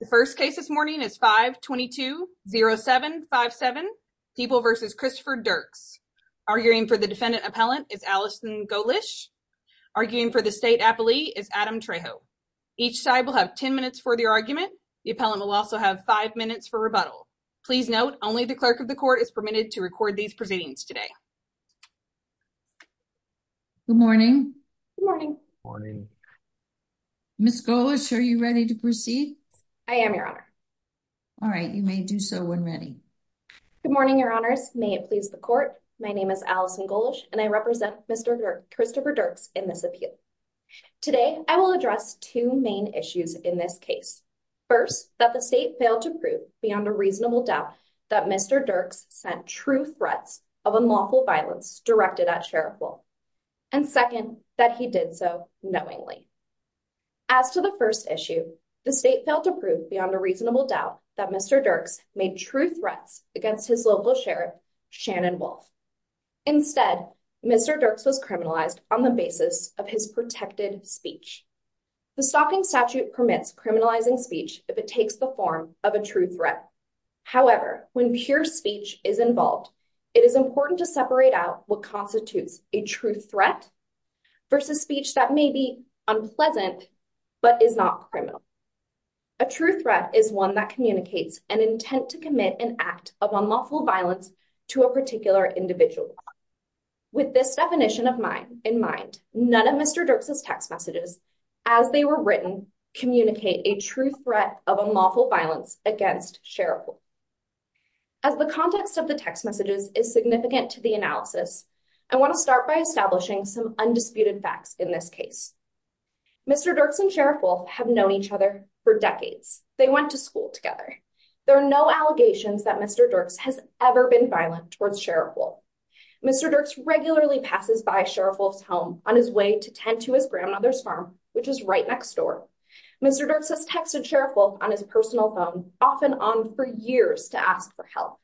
The first case this morning is 522-0757, Diebel v. Christopher Diercks. Arguing for the defendant appellant is Allison Golish. Arguing for the state appellee is Adam Trejo. Each side will have 10 minutes for the argument. The appellant will also have 5 minutes for rebuttal. Please note, only the clerk of the court is permitted to record these proceedings today. Good morning. Morning. Ms. Golish, are you ready to proceed? I am, your honor. All right, you may do so when ready. Good morning, your honors. May it please the court, my name is Allison Golish, and I represent Mr. Christopher Diercks in this appeal. Today, I will address two main issues in this case. First, that the state failed to prove beyond a reasonable doubt that Mr. Diercks sent true threats of unlawful violence directed at Sheriff Bull. And second, that he did so knowingly. As to the first issue, the state failed to prove beyond a reasonable doubt that Mr. Diercks made true threats against his local sheriff, Shannon Wolf. Instead, Mr. Diercks was criminalized on the basis of his protected speech. The Stalking Statute permits criminalizing speech if it takes the form of a true threat. However, when pure speech is involved, it is important to separate out what constitutes a true threat versus speech that may be unpleasant but is not criminal. A true threat is one that communicates an intent to commit an act of unlawful violence to a particular individual. With this definition in mind, none of Mr. Diercks' text messages, as they were written, communicate a true threat of unlawful violence against Sheriff Bull. As the context of the text messages is significant to the analysis, I want to start by establishing some undisputed facts in this case. Mr. Diercks and Sheriff Wolf have known each other for decades. They went to school together. There are no allegations that Mr. Diercks has ever been violent towards Sheriff Wolf. Mr. Diercks regularly passes by Sheriff Wolf's home on his way to tend to his grandmother's farm, which is right next door. Mr. Diercks has texted Sheriff Wolf on his personal phone, often on for years to ask for help.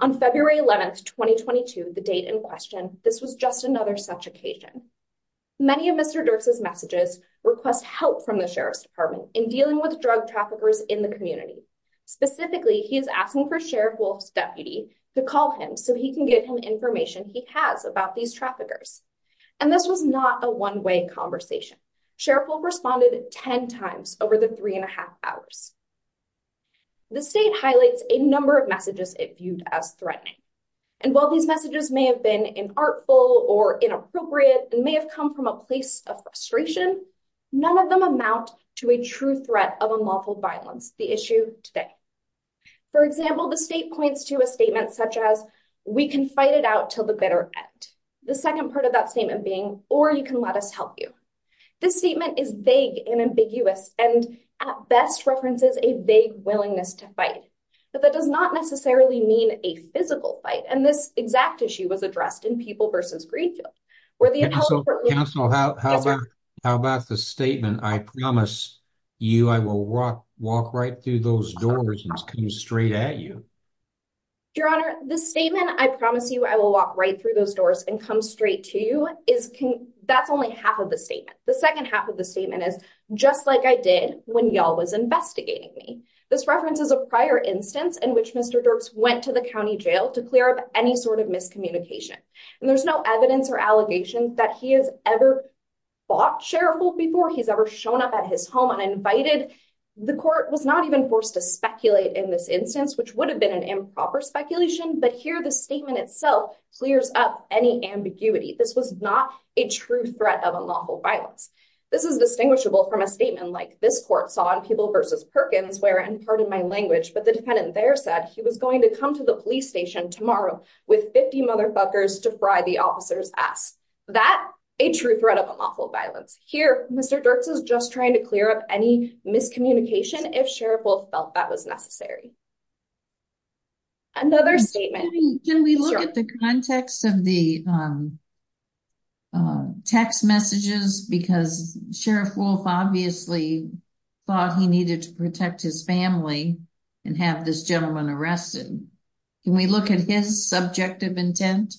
On February 11, 2022, the date in question, this was just another such occasion. Many of Mr. Diercks' messages request help from the Sheriff's Department in dealing with drug traffickers in the community. Specifically, he is asking for Sheriff Wolf's deputy to call him so he can get him information he has about these traffickers. And this was not a one-way conversation. Sheriff Wolf responded 10 times over the three and a half hours. The state highlights a number of messages it viewed as threatening. And while these messages may have been inartful or inappropriate and may have come from a place of frustration, none of them amount to a true threat of unlawful violence, the issue today. For example, the state points to a statement such as, we can fight it out till the bitter end. The second part of that statement being, or you can let us help you. This statement is vague and ambiguous and at best references a vague willingness to fight. But that does not necessarily mean a physical fight. And this exact issue was addressed in People vs. Greenfield, where the- And so counsel, how about the statement, I promise you, I will walk right through those doors and come straight at you. Your Honor, the statement, I promise you, I will walk right through those doors and come straight to you That's only half of the statement. The second half of the statement is, just like I did when y'all was investigating me. This reference is a prior instance in which Mr. Dirks went to the county jail to clear up any sort of miscommunication. And there's no evidence or allegations that he has ever fought Sheriff Wolf before, he's ever shown up at his home uninvited. The court was not even forced to speculate in this instance, which would have been an improper speculation. But here the statement itself clears up any ambiguity. This was not a true threat of unlawful violence. This is distinguishable from a statement like this court saw in People vs. Perkins, where, and pardon my language, but the defendant there said, he was going to come to the police station tomorrow with 50 motherfuckers to fry the officer's ass. That, a true threat of unlawful violence. Here, Mr. Dirks is just trying to clear up any miscommunication if Sheriff Wolf felt that was necessary. Another statement- Can we look at the context of the text messages? Because Sheriff Wolf obviously thought he needed to protect his family and have this gentleman arrested. Can we look at his subjective intent?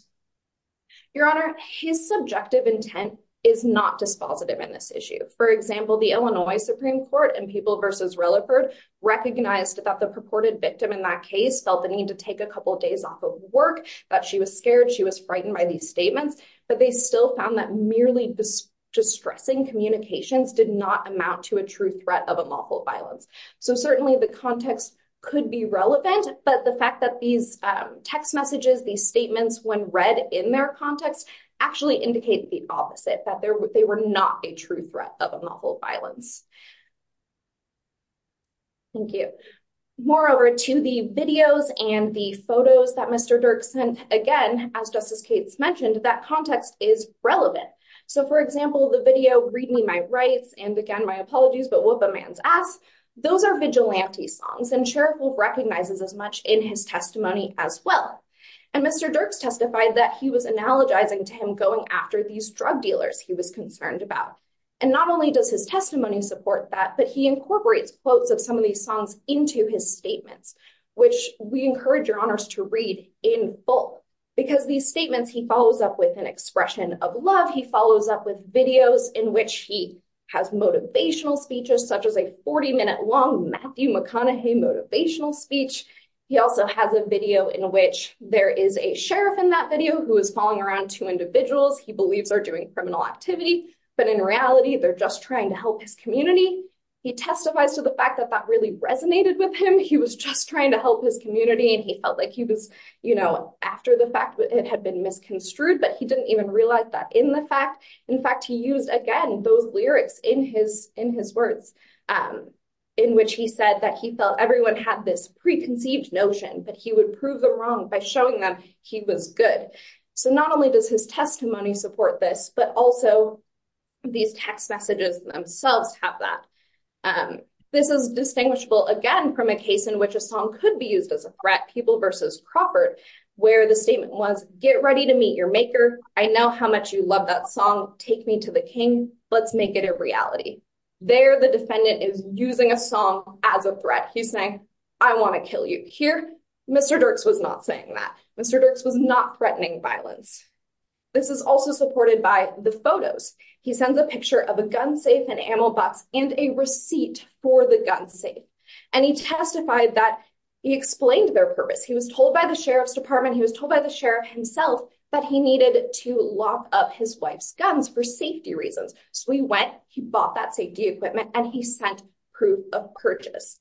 Your Honor, his subjective intent is not dispositive in this issue. For example, the Illinois Supreme Court in People vs. Rilleford recognized that the purported victim in that case felt the need to take a couple of days off of work, that she was scared, she was frightened by these statements, but they still found that merely distressing communications did not amount to a true threat of unlawful violence. So certainly the context could be relevant, but the fact that these text messages, these statements, when read in their context, actually indicate the opposite, that they were not a true threat of unlawful violence. Thank you. Moreover, to the videos and the photos that Mr. Dirks sent, again, as Justice Cates mentioned, that context is relevant. So for example, the video, Read Me My Rights, and again, My Apologies, But Whoop A Man's Ass, those are vigilante songs, and Sheriff Wolf recognizes as much in his testimony as well. And Mr. Dirks testified that he was analogizing to him going after these drug dealers he was concerned about. And not only does his testimony support that, but he incorporates quotes of some of these songs into his statements, which we encourage your honors to read in full. Because these statements, he follows up with an expression of love. He follows up with videos in which he has motivational speeches, such as a 40-minute long Matthew McConaughey motivational speech. He also has a video in which there is a sheriff in that video who is following around two individuals but in reality, they're just trying to help his community. He testifies to the fact that that really resonated with him. He was just trying to help his community and he felt like he was, you know, after the fact it had been misconstrued, but he didn't even realize that in the fact. In fact, he used, again, those lyrics in his words in which he said that he felt everyone had this preconceived notion that he would prove them wrong by showing them he was good. So not only does his testimony support this, but also these text messages themselves have that. This is distinguishable, again, from a case in which a song could be used as a threat, People versus Crawford, where the statement was, get ready to meet your maker. I know how much you love that song. Take me to the king. Let's make it a reality. There, the defendant is using a song as a threat. He's saying, I want to kill you. Here, Mr. Dirks was not saying that. Mr. Dirks was not threatening violence. This is also supported by the photos. He sends a picture of a gun safe and ammo box and a receipt for the gun safe. And he testified that he explained their purpose. He was told by the sheriff's department. He was told by the sheriff himself that he needed to lock up his wife's guns for safety reasons. So he went, he bought that safety equipment, and he sent proof of purchase.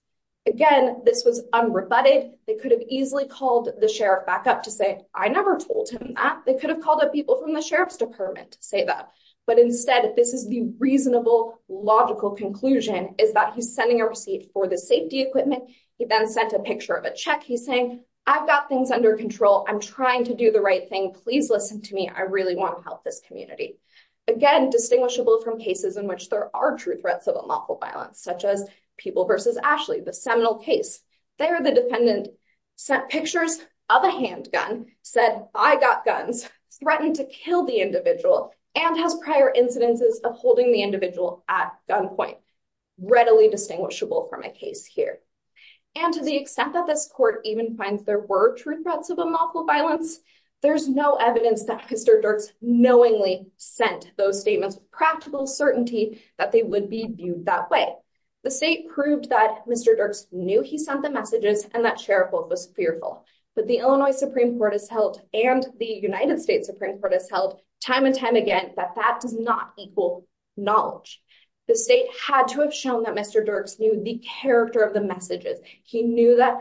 Again, this was unrebutted. They could have easily called the sheriff back up to say, I never told him that. They could have called up people from the sheriff's department to say that. But instead, this is the reasonable, logical conclusion is that he's sending a receipt for the safety equipment. He then sent a picture of a check. He's saying, I've got things under control. I'm trying to do the right thing. Please listen to me. I really want to help this community. Again, distinguishable from cases in which there are true threats of unlawful violence, such as People v. Ashley, the seminal case. There, the defendant sent pictures of a handgun, said, I got guns, threatened to kill the individual, and has prior incidences of holding the individual at gunpoint. Readily distinguishable from a case here. And to the extent that this court even finds there were true threats of unlawful violence, there's no evidence that Mr. Dirks knowingly sent those statements with practical certainty that they would be viewed that way. The state proved that Mr. Dirks knew he sent the messages, and that sheriff was fearful. But the Illinois Supreme Court has held, and the United States Supreme Court has held, time and time again, that that does not equal knowledge. The state had to have shown that Mr. Dirks knew the character of the messages. He knew that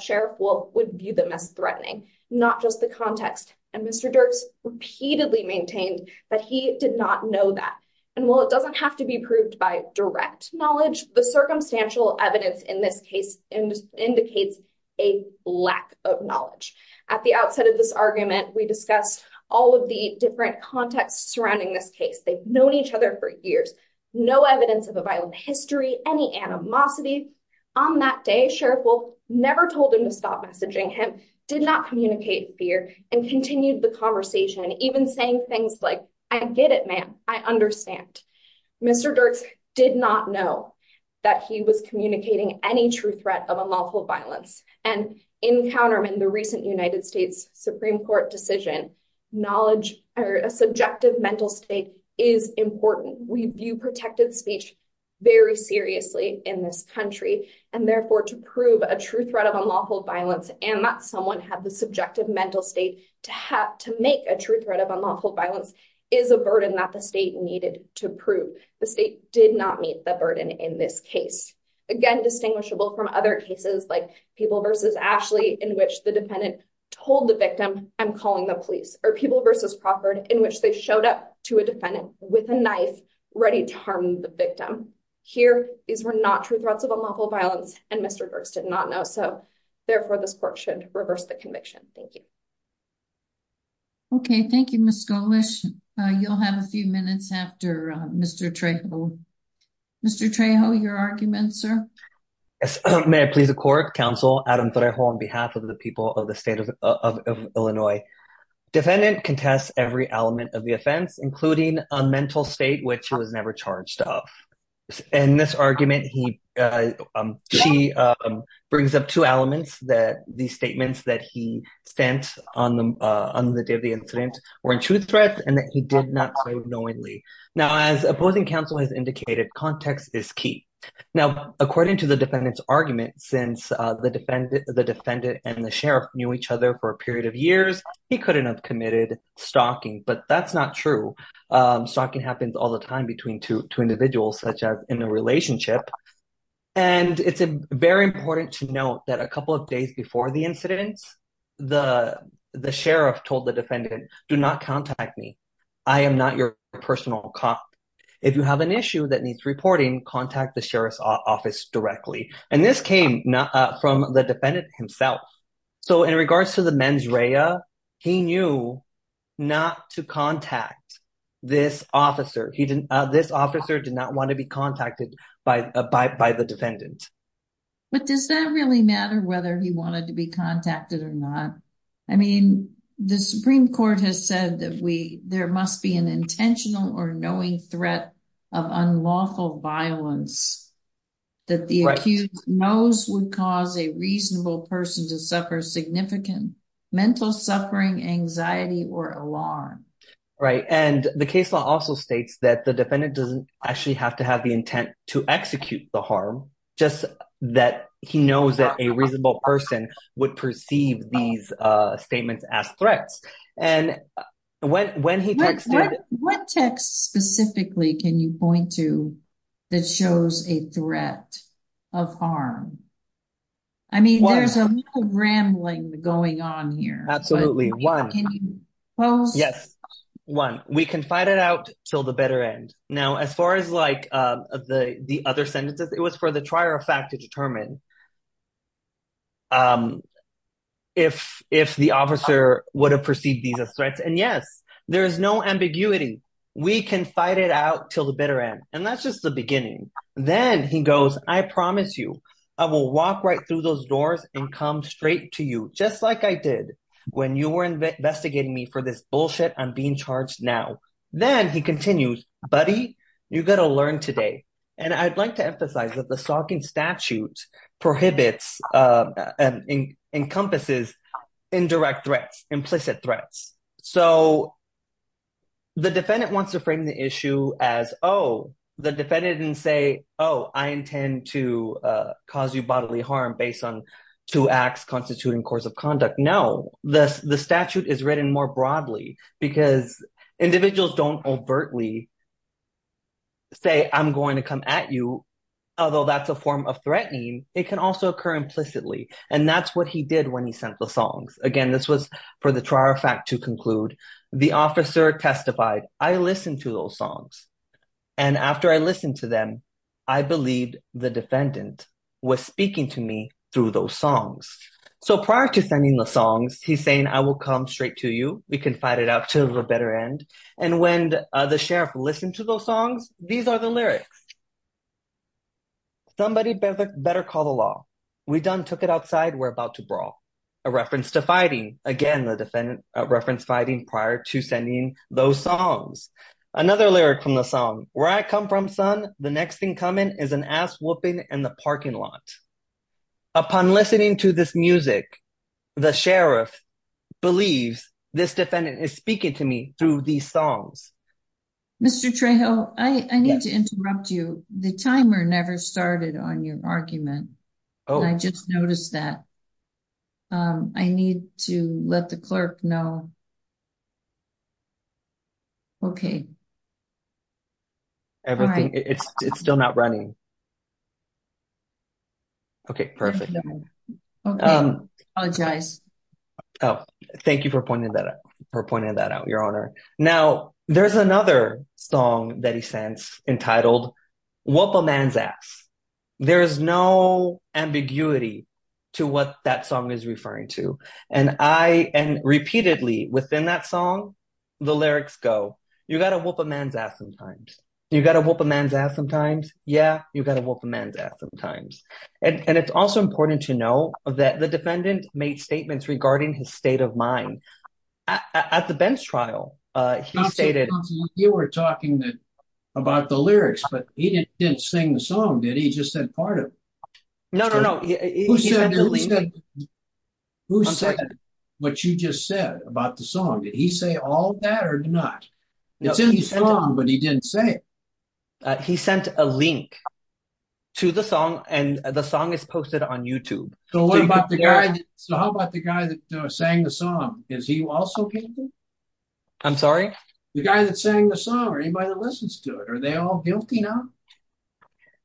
sheriff would view them as threatening, not just the context. And Mr. Dirks repeatedly maintained that he did not know that. And while it doesn't have to be proved by direct knowledge, the circumstantial evidence in this case indicates a lack of knowledge. At the outset of this argument, we discussed all of the different contexts surrounding this case. They've known each other for years. No evidence of a violent history, any animosity. On that day, sheriff will never told him to stop messaging him, did not communicate fear, and continued the conversation, even saying things like, I get it, ma'am. I understand. Mr. Dirks did not know that he was communicating any true threat of unlawful violence. And in Counterman, the recent United States Supreme Court decision, knowledge or a subjective mental state is important. We view protective speech very seriously in this country. And therefore, to prove a true threat of unlawful violence and that someone had the subjective mental state to make a true threat of unlawful violence is a burden that the state needed to prove. The state did not meet the burden in this case. Again, distinguishable from other cases like People v. Ashley, in which the defendant told the victim, I'm calling the police. Or People v. Crawford, in which they showed up to a defendant with a knife, ready to harm the victim. Here, these were not true threats of unlawful violence, and Mr. Dirks did not know. So therefore, this court should reverse the conviction. Thank you. Okay, thank you, Ms. Gomesh. You'll have a few minutes after Mr. Trejo. Mr. Trejo, your argument, sir. Yes. May I please the court, counsel Adam Trejo, on behalf of the people of the state of Illinois. Defendant contests every element of the offense, including a mental state which he was never charged of. In this argument, he, she brings up two elements that these statements that he sent on the day of the incident were in true threat, and that he did not say knowingly. Now, as opposing counsel has indicated, context is key. Now, according to the defendant's argument, since the defendant and the sheriff knew each other for a period of years, he couldn't have committed stalking. But that's not true. Stalking happens all the time between two individuals, such as in a relationship. And it's very important to note that a couple of days before the incident, the sheriff told the defendant, do not contact me. I am not your personal cop. If you have an issue that needs reporting, contact the sheriff's office directly. And this came from the defendant himself. So in regards to the mens rea, he knew not to contact this officer. He didn't, this officer did not want to be contacted by the defendant. But does that really matter whether he wanted to be contacted or not? I mean, the Supreme Court has said that we, there must be an intentional or knowing threat of unlawful violence that the accused knows would cause a reasonable person to suffer significant mental suffering, anxiety, or alarm. Right, and the case law also states that the defendant doesn't actually have to have the intent to execute the harm, just that he knows that a reasonable person would perceive these statements as threats. And when he texted- What text specifically can you point to that shows a threat of harm? I mean, there's a lot of rambling going on here. Absolutely, one. Yes, one, we can fight it out till the better end. Now, as far as like the other sentences, it was for the trier of fact to determine if the officer would have perceived these as threats. And yes, there is no ambiguity. We can fight it out till the better end. And that's just the beginning. Then he goes, I promise you, I will walk right through those doors and come straight to you, just like I did when you were investigating me for this bullshit. I'm being charged now. Then he continues, buddy, you gotta learn today. And I'd like to emphasize that the stalking statute prohibits and encompasses indirect threats, implicit threats. So the defendant wants to frame the issue as, oh, the defendant didn't say, oh, I intend to cause you bodily harm based on two acts constituting course of conduct. No, the statute is written more broadly because individuals don't overtly say, I'm going to come at you. Although that's a form of threatening, it can also occur implicitly. And that's what he did when he sent the songs. Again, this was for the trial fact to conclude. The officer testified, I listened to those songs. And after I listened to them, I believed the defendant was speaking to me through those songs. So prior to sending the songs, he's saying, I will come straight to you. We can fight it out till the better end. And when the sheriff listened to those songs, these are the lyrics. Somebody better call the law. We done took it outside, we're about to brawl. A reference to fighting. Again, the defendant referenced fighting prior to sending those songs. Another lyric from the song, where I come from son, the next thing coming is an ass whooping in the parking lot. Upon listening to this music, the sheriff believes this defendant is speaking to me through these songs. Mr. Trejo, I need to interrupt you. The timer never started on your argument. I just noticed that. I need to let the clerk know. Okay. Everything, it's still not running. Okay, perfect. Okay, I apologize. Oh, thank you for pointing that out, your honor. Now, there's another song that he sends entitled, Whoop a Man's Ass. There's no ambiguity to what that song is referring to. And I, and repeatedly within that song, the lyrics go, you gotta whoop a man's ass sometimes. You gotta whoop a man's ass sometimes. Yeah, you gotta whoop a man's ass sometimes. And it's also important to know that the defendant made statements regarding his state of mind. At the bench trial, he stated- You were talking about the lyrics, but he didn't sing the song, did he? He just said part of it. No, no, no. Who said what you just said about the song? Did he say all that or not? It's in the song, but he didn't say it. He sent a link to the song, and the song is posted on YouTube. So what about the guy that sang the song? Is he also guilty? I'm sorry? The guy that sang the song, or anybody that listens to it, are they all guilty now?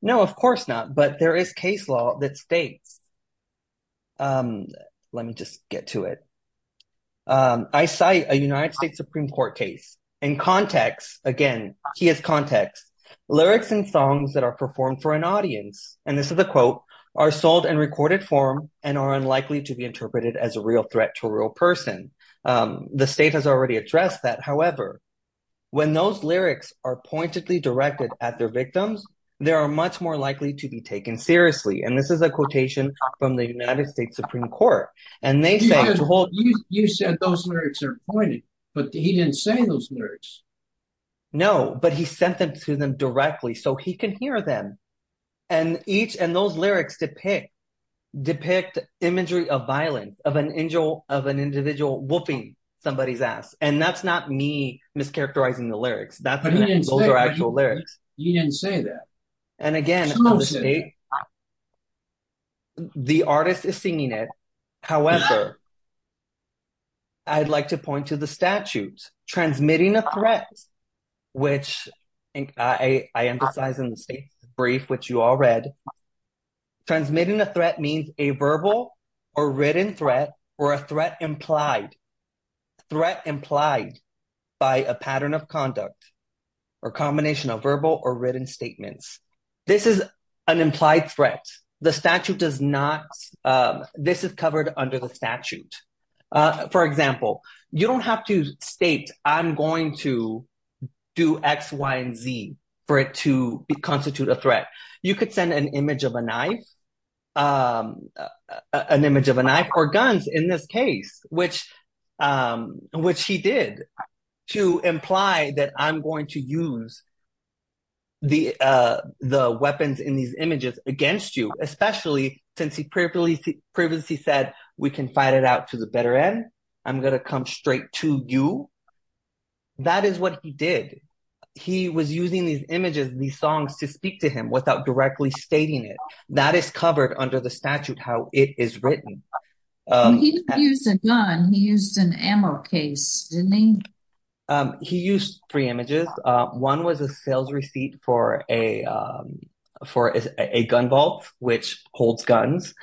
No, of course not. But there is case law that states... Let me just get to it. I cite a United States Supreme Court case. In context, again, he has context. Lyrics and songs that are performed for an audience, and this is a quote, are sold in recorded form and are unlikely to be interpreted as a real threat to a real person. The state has already addressed that. When those lyrics are pointedly directed at their victims, they are much more likely to be taken seriously. And this is a quotation from the United States Supreme Court. You said those lyrics are pointed, but he didn't say those lyrics. No, but he sent them to them directly so he can hear them. And those lyrics depict imagery of violence, of an individual whooping somebody's ass. And that's not me mischaracterizing the lyrics. Those are actual lyrics. He didn't say that. And again, the artist is singing it. However, I'd like to point to the statutes. Transmitting a threat, which I emphasize in the state's brief, which you all read, transmitting a threat means a verbal or written threat or a threat implied. Threat implied by a pattern of conduct or combination of verbal or written statements. This is an implied threat. The statute does not, this is covered under the statute. For example, you don't have to state, I'm going to do X, Y, and Z for it to constitute a threat. You could send an image of a knife, an image of a knife or guns in this case, which he did to imply that I'm going to use the weapons in these images against you, especially since he previously said, we can fight it out to the better end. I'm going to come straight to you. That is what he did. He was using these images, these songs to speak to him without directly stating it. That is covered under the statute, how it is written. He didn't use a gun. He used an ammo case, didn't he? He used three images. One was a sales receipt for a gun vault, which holds guns.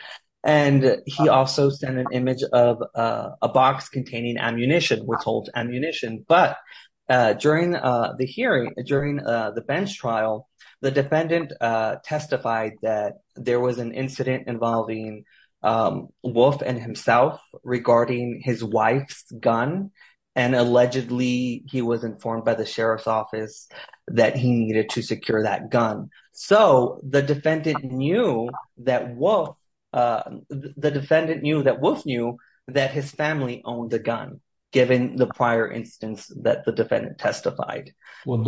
He also sent an image of a box containing ammunition, which holds ammunition. But during the hearing, during the bench trial, the defendant testified that there was an incident involving Wolfe and himself regarding his wife's gun. And allegedly he was informed by the sheriff's office that he needed to secure that gun. So the defendant knew that Wolfe, the defendant knew that Wolfe knew that his family owned the gun, given the prior instance that the defendant testified. Well,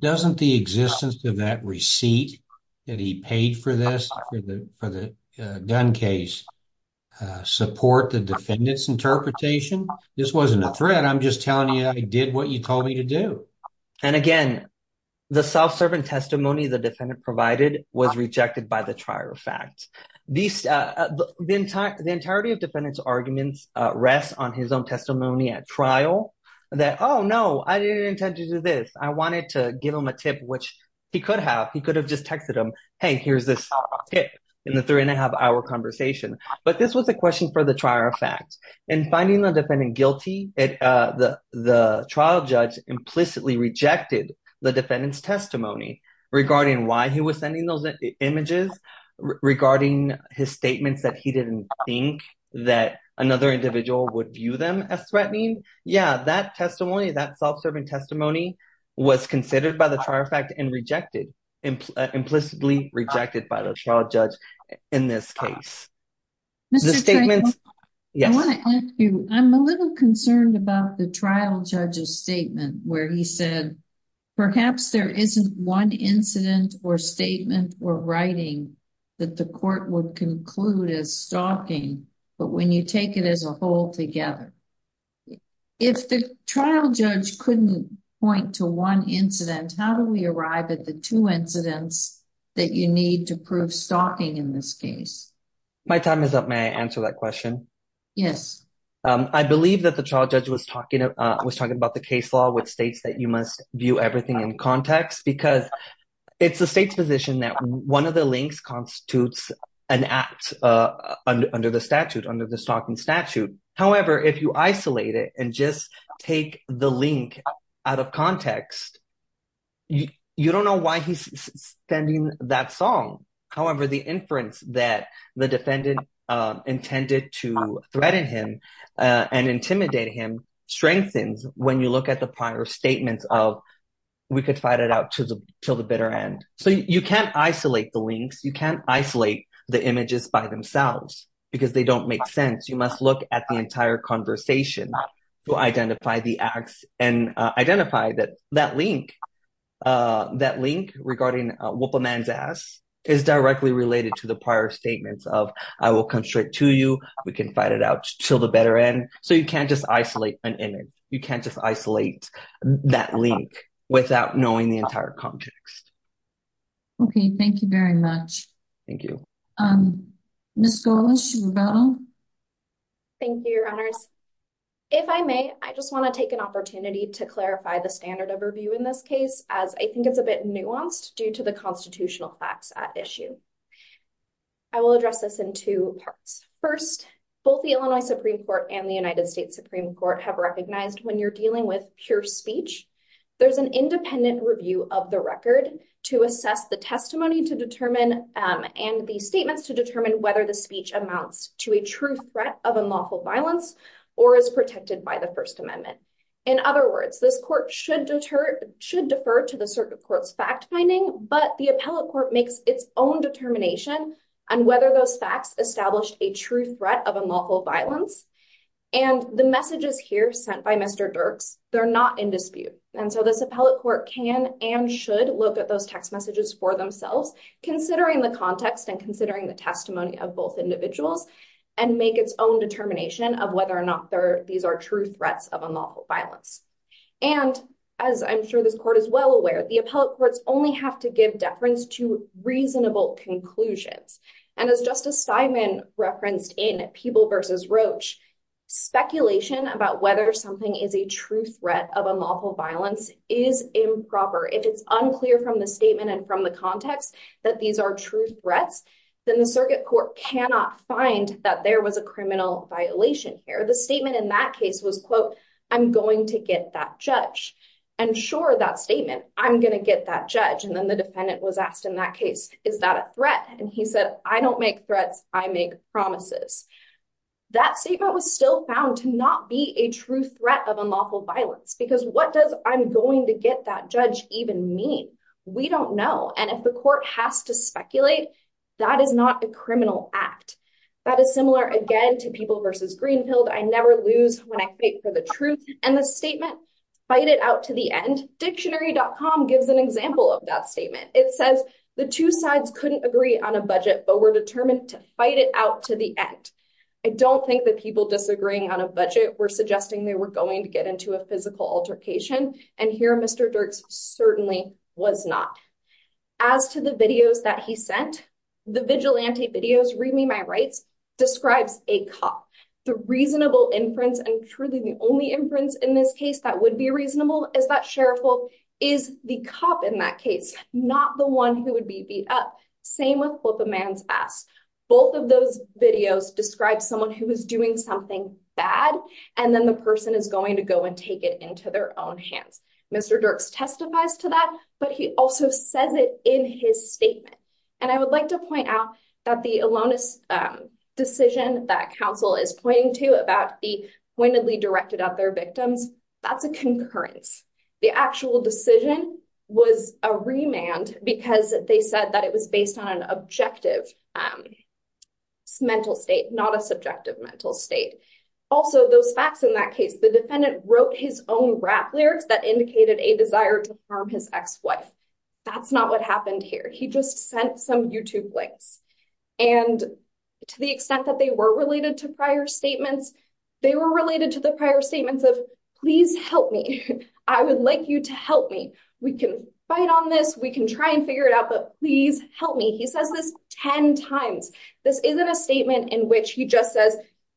doesn't the existence of that receipt that he paid for this for the gun case support the defendant's interpretation? This wasn't a threat. I'm just telling you, I did what you told me to do. And again, the self-servant testimony the defendant provided was rejected by the trial fact. The entirety of defendant's arguments rests on his own testimony at trial. That, oh no, I didn't intend to do this. I wanted to give him a tip, which he could have. He could have just texted him, hey, here's this tip in the three and a half hour conversation. But this was a question for the trial fact and finding the defendant guilty. The trial judge implicitly rejected the defendant's testimony regarding why he was sending those images, regarding his statements that he didn't think that another individual would view them as threatening. Yeah, that testimony, that self-serving testimony was considered by the trial fact and implicitly rejected by the trial judge in this case. Mr. Trayvon, I wanna ask you, I'm a little concerned about the trial judge's statement where he said, perhaps there isn't one incident or statement or writing that the court would conclude as stalking, but when you take it as a whole together. If the trial judge couldn't point to one incident, how do we arrive at the two incidents that you need to prove stalking in this case? My time is up. May I answer that question? Yes. I believe that the trial judge was talking about the case law, which states that you must view everything in context because it's the state's position that one of the links constitutes an act under the statute, under the stalking statute. However, if you isolate it and just take the link out of context, you don't know why he's sending that song. However, the inference that the defendant intended to threaten him and intimidate him strengthens when you look at the prior statements of, we could fight it out till the bitter end. So you can't isolate the links. You can't isolate the images by themselves because they don't make sense. You must look at the entire conversation to identify the acts and identify that that link, that link regarding whoop a man's ass is directly related to the prior statements of, I will constrict to you. We can fight it out till the better end. So you can't just isolate an image. You can't just isolate that link without knowing the entire context. Okay. Thank you very much. Thank you. Ms. Golas, you were about on? Thank you, your honors. If I may, I just want to take an opportunity to clarify the standard of review in this case, as I think it's a bit nuanced due to the constitutional facts at issue. I will address this in two parts. First, both the Illinois Supreme Court and the United States Supreme Court have recognized when you're dealing with pure speech, there's an independent review of the record to assess the testimony to determine and the statements to determine whether the speech amounts to a true threat of unlawful violence or is protected by the First Amendment. In other words, this court should defer to the circuit court's fact finding, but the appellate court makes its own determination on whether those facts established a true threat of unlawful violence. And the messages here sent by Mr. Dirks, they're not in dispute. And so this appellate court can and should look at those text messages for themselves, considering the context and considering the testimony of both individuals and make its own determination of whether or not these are true threats of unlawful violence. And as I'm sure this court is well aware, the appellate courts only have to give deference to reasonable conclusions. And as Justice Steinman referenced in People v. Roach, speculation about whether something is a true threat of unlawful violence is improper. If it's unclear from the statement and from the context that these are true threats, then the circuit court cannot find that there was a criminal violation here. The statement in that case was quote, I'm going to get that judge. And sure, that statement, I'm gonna get that judge. And then the defendant was asked in that case, is that a threat? And he said, I don't make threats, I make promises. That statement was still found to not be a true threat of unlawful violence because what does I'm going to get that judge even mean? We don't know. And if the court has to speculate, that is not a criminal act. That is similar again to People v. Greenfield, I never lose when I fight for the truth. And the statement fight it out to the end, dictionary.com gives an example of that statement. It says the two sides couldn't agree on a budget, but were determined to fight it out to the end. I don't think that people disagreeing on a budget were suggesting they were going to get into a physical altercation. And here Mr. Dirks certainly was not. As to the videos that he sent, the vigilante videos, read me my rights, describes a cop. The reasonable inference, and truly the only inference in this case that would be reasonable is that sheriff or is the cop in that case, not the one who would be beat up. Same with what the man's asked. Both of those videos describe someone who was doing something bad. And then the person is going to go and take it into their own hands. Mr. Dirks testifies to that, but he also says it in his statement. And I would like to point out that the Alonis decision that counsel is pointing to about the pointedly directed at their victims, that's a concurrence. The actual decision was a remand because they said that it was based on an objective mental state, not a subjective mental state. Also those facts in that case, the defendant wrote his own rap lyrics that indicated a desire to harm his ex-wife. That's not what happened here. He just sent some YouTube links. And to the extent that they were related to prior statements, they were related to the prior statements of please help me. I would like you to help me. We can fight on this. We can try and figure it out, but please help me. He says this 10 times. This isn't a statement in which he just says,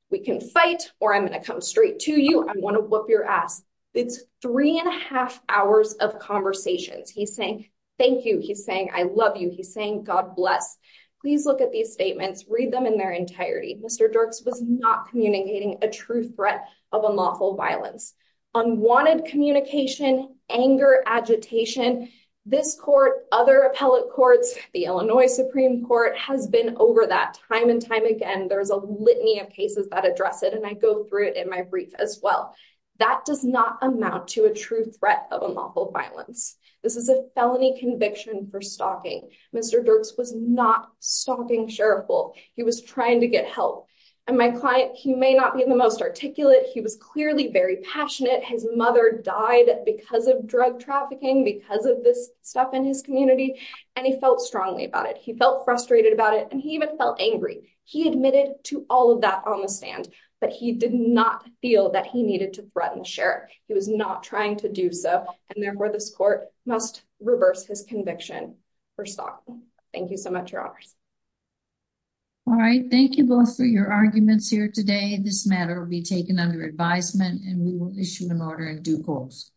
we can fight or I'm going to come straight to you. I'm going to whoop your ass. It's three and a half hours of conversations. He's saying, thank you. He's saying, I love you. He's saying, God bless. Please look at these statements, read them in their entirety. Mr. Dirks was not communicating a true threat of unlawful violence, unwanted communication, anger, agitation. This court, other appellate courts, the Illinois Supreme Court has been over that time and time again. There's a litany of cases that address it. And I go through it in my brief as well. That does not amount to a true threat of unlawful violence. This is a felony conviction for stalking. Mr. Dirks was not stalking Sheriff Bull. He was trying to get help. And my client, he may not be the most articulate. He was clearly very passionate. His mother died because of drug trafficking, because of this stuff in his community. And he felt strongly about it. He felt frustrated about it. And he even felt angry. He admitted to all of that on the stand, but he did not feel that he needed to threaten the Sheriff. He was not trying to do so. And therefore this court must reverse his conviction for stalking. Thank you so much, Your Honors. All right. Thank you both for your arguments here today. This matter will be taken under advisement and we will issue an order in due course.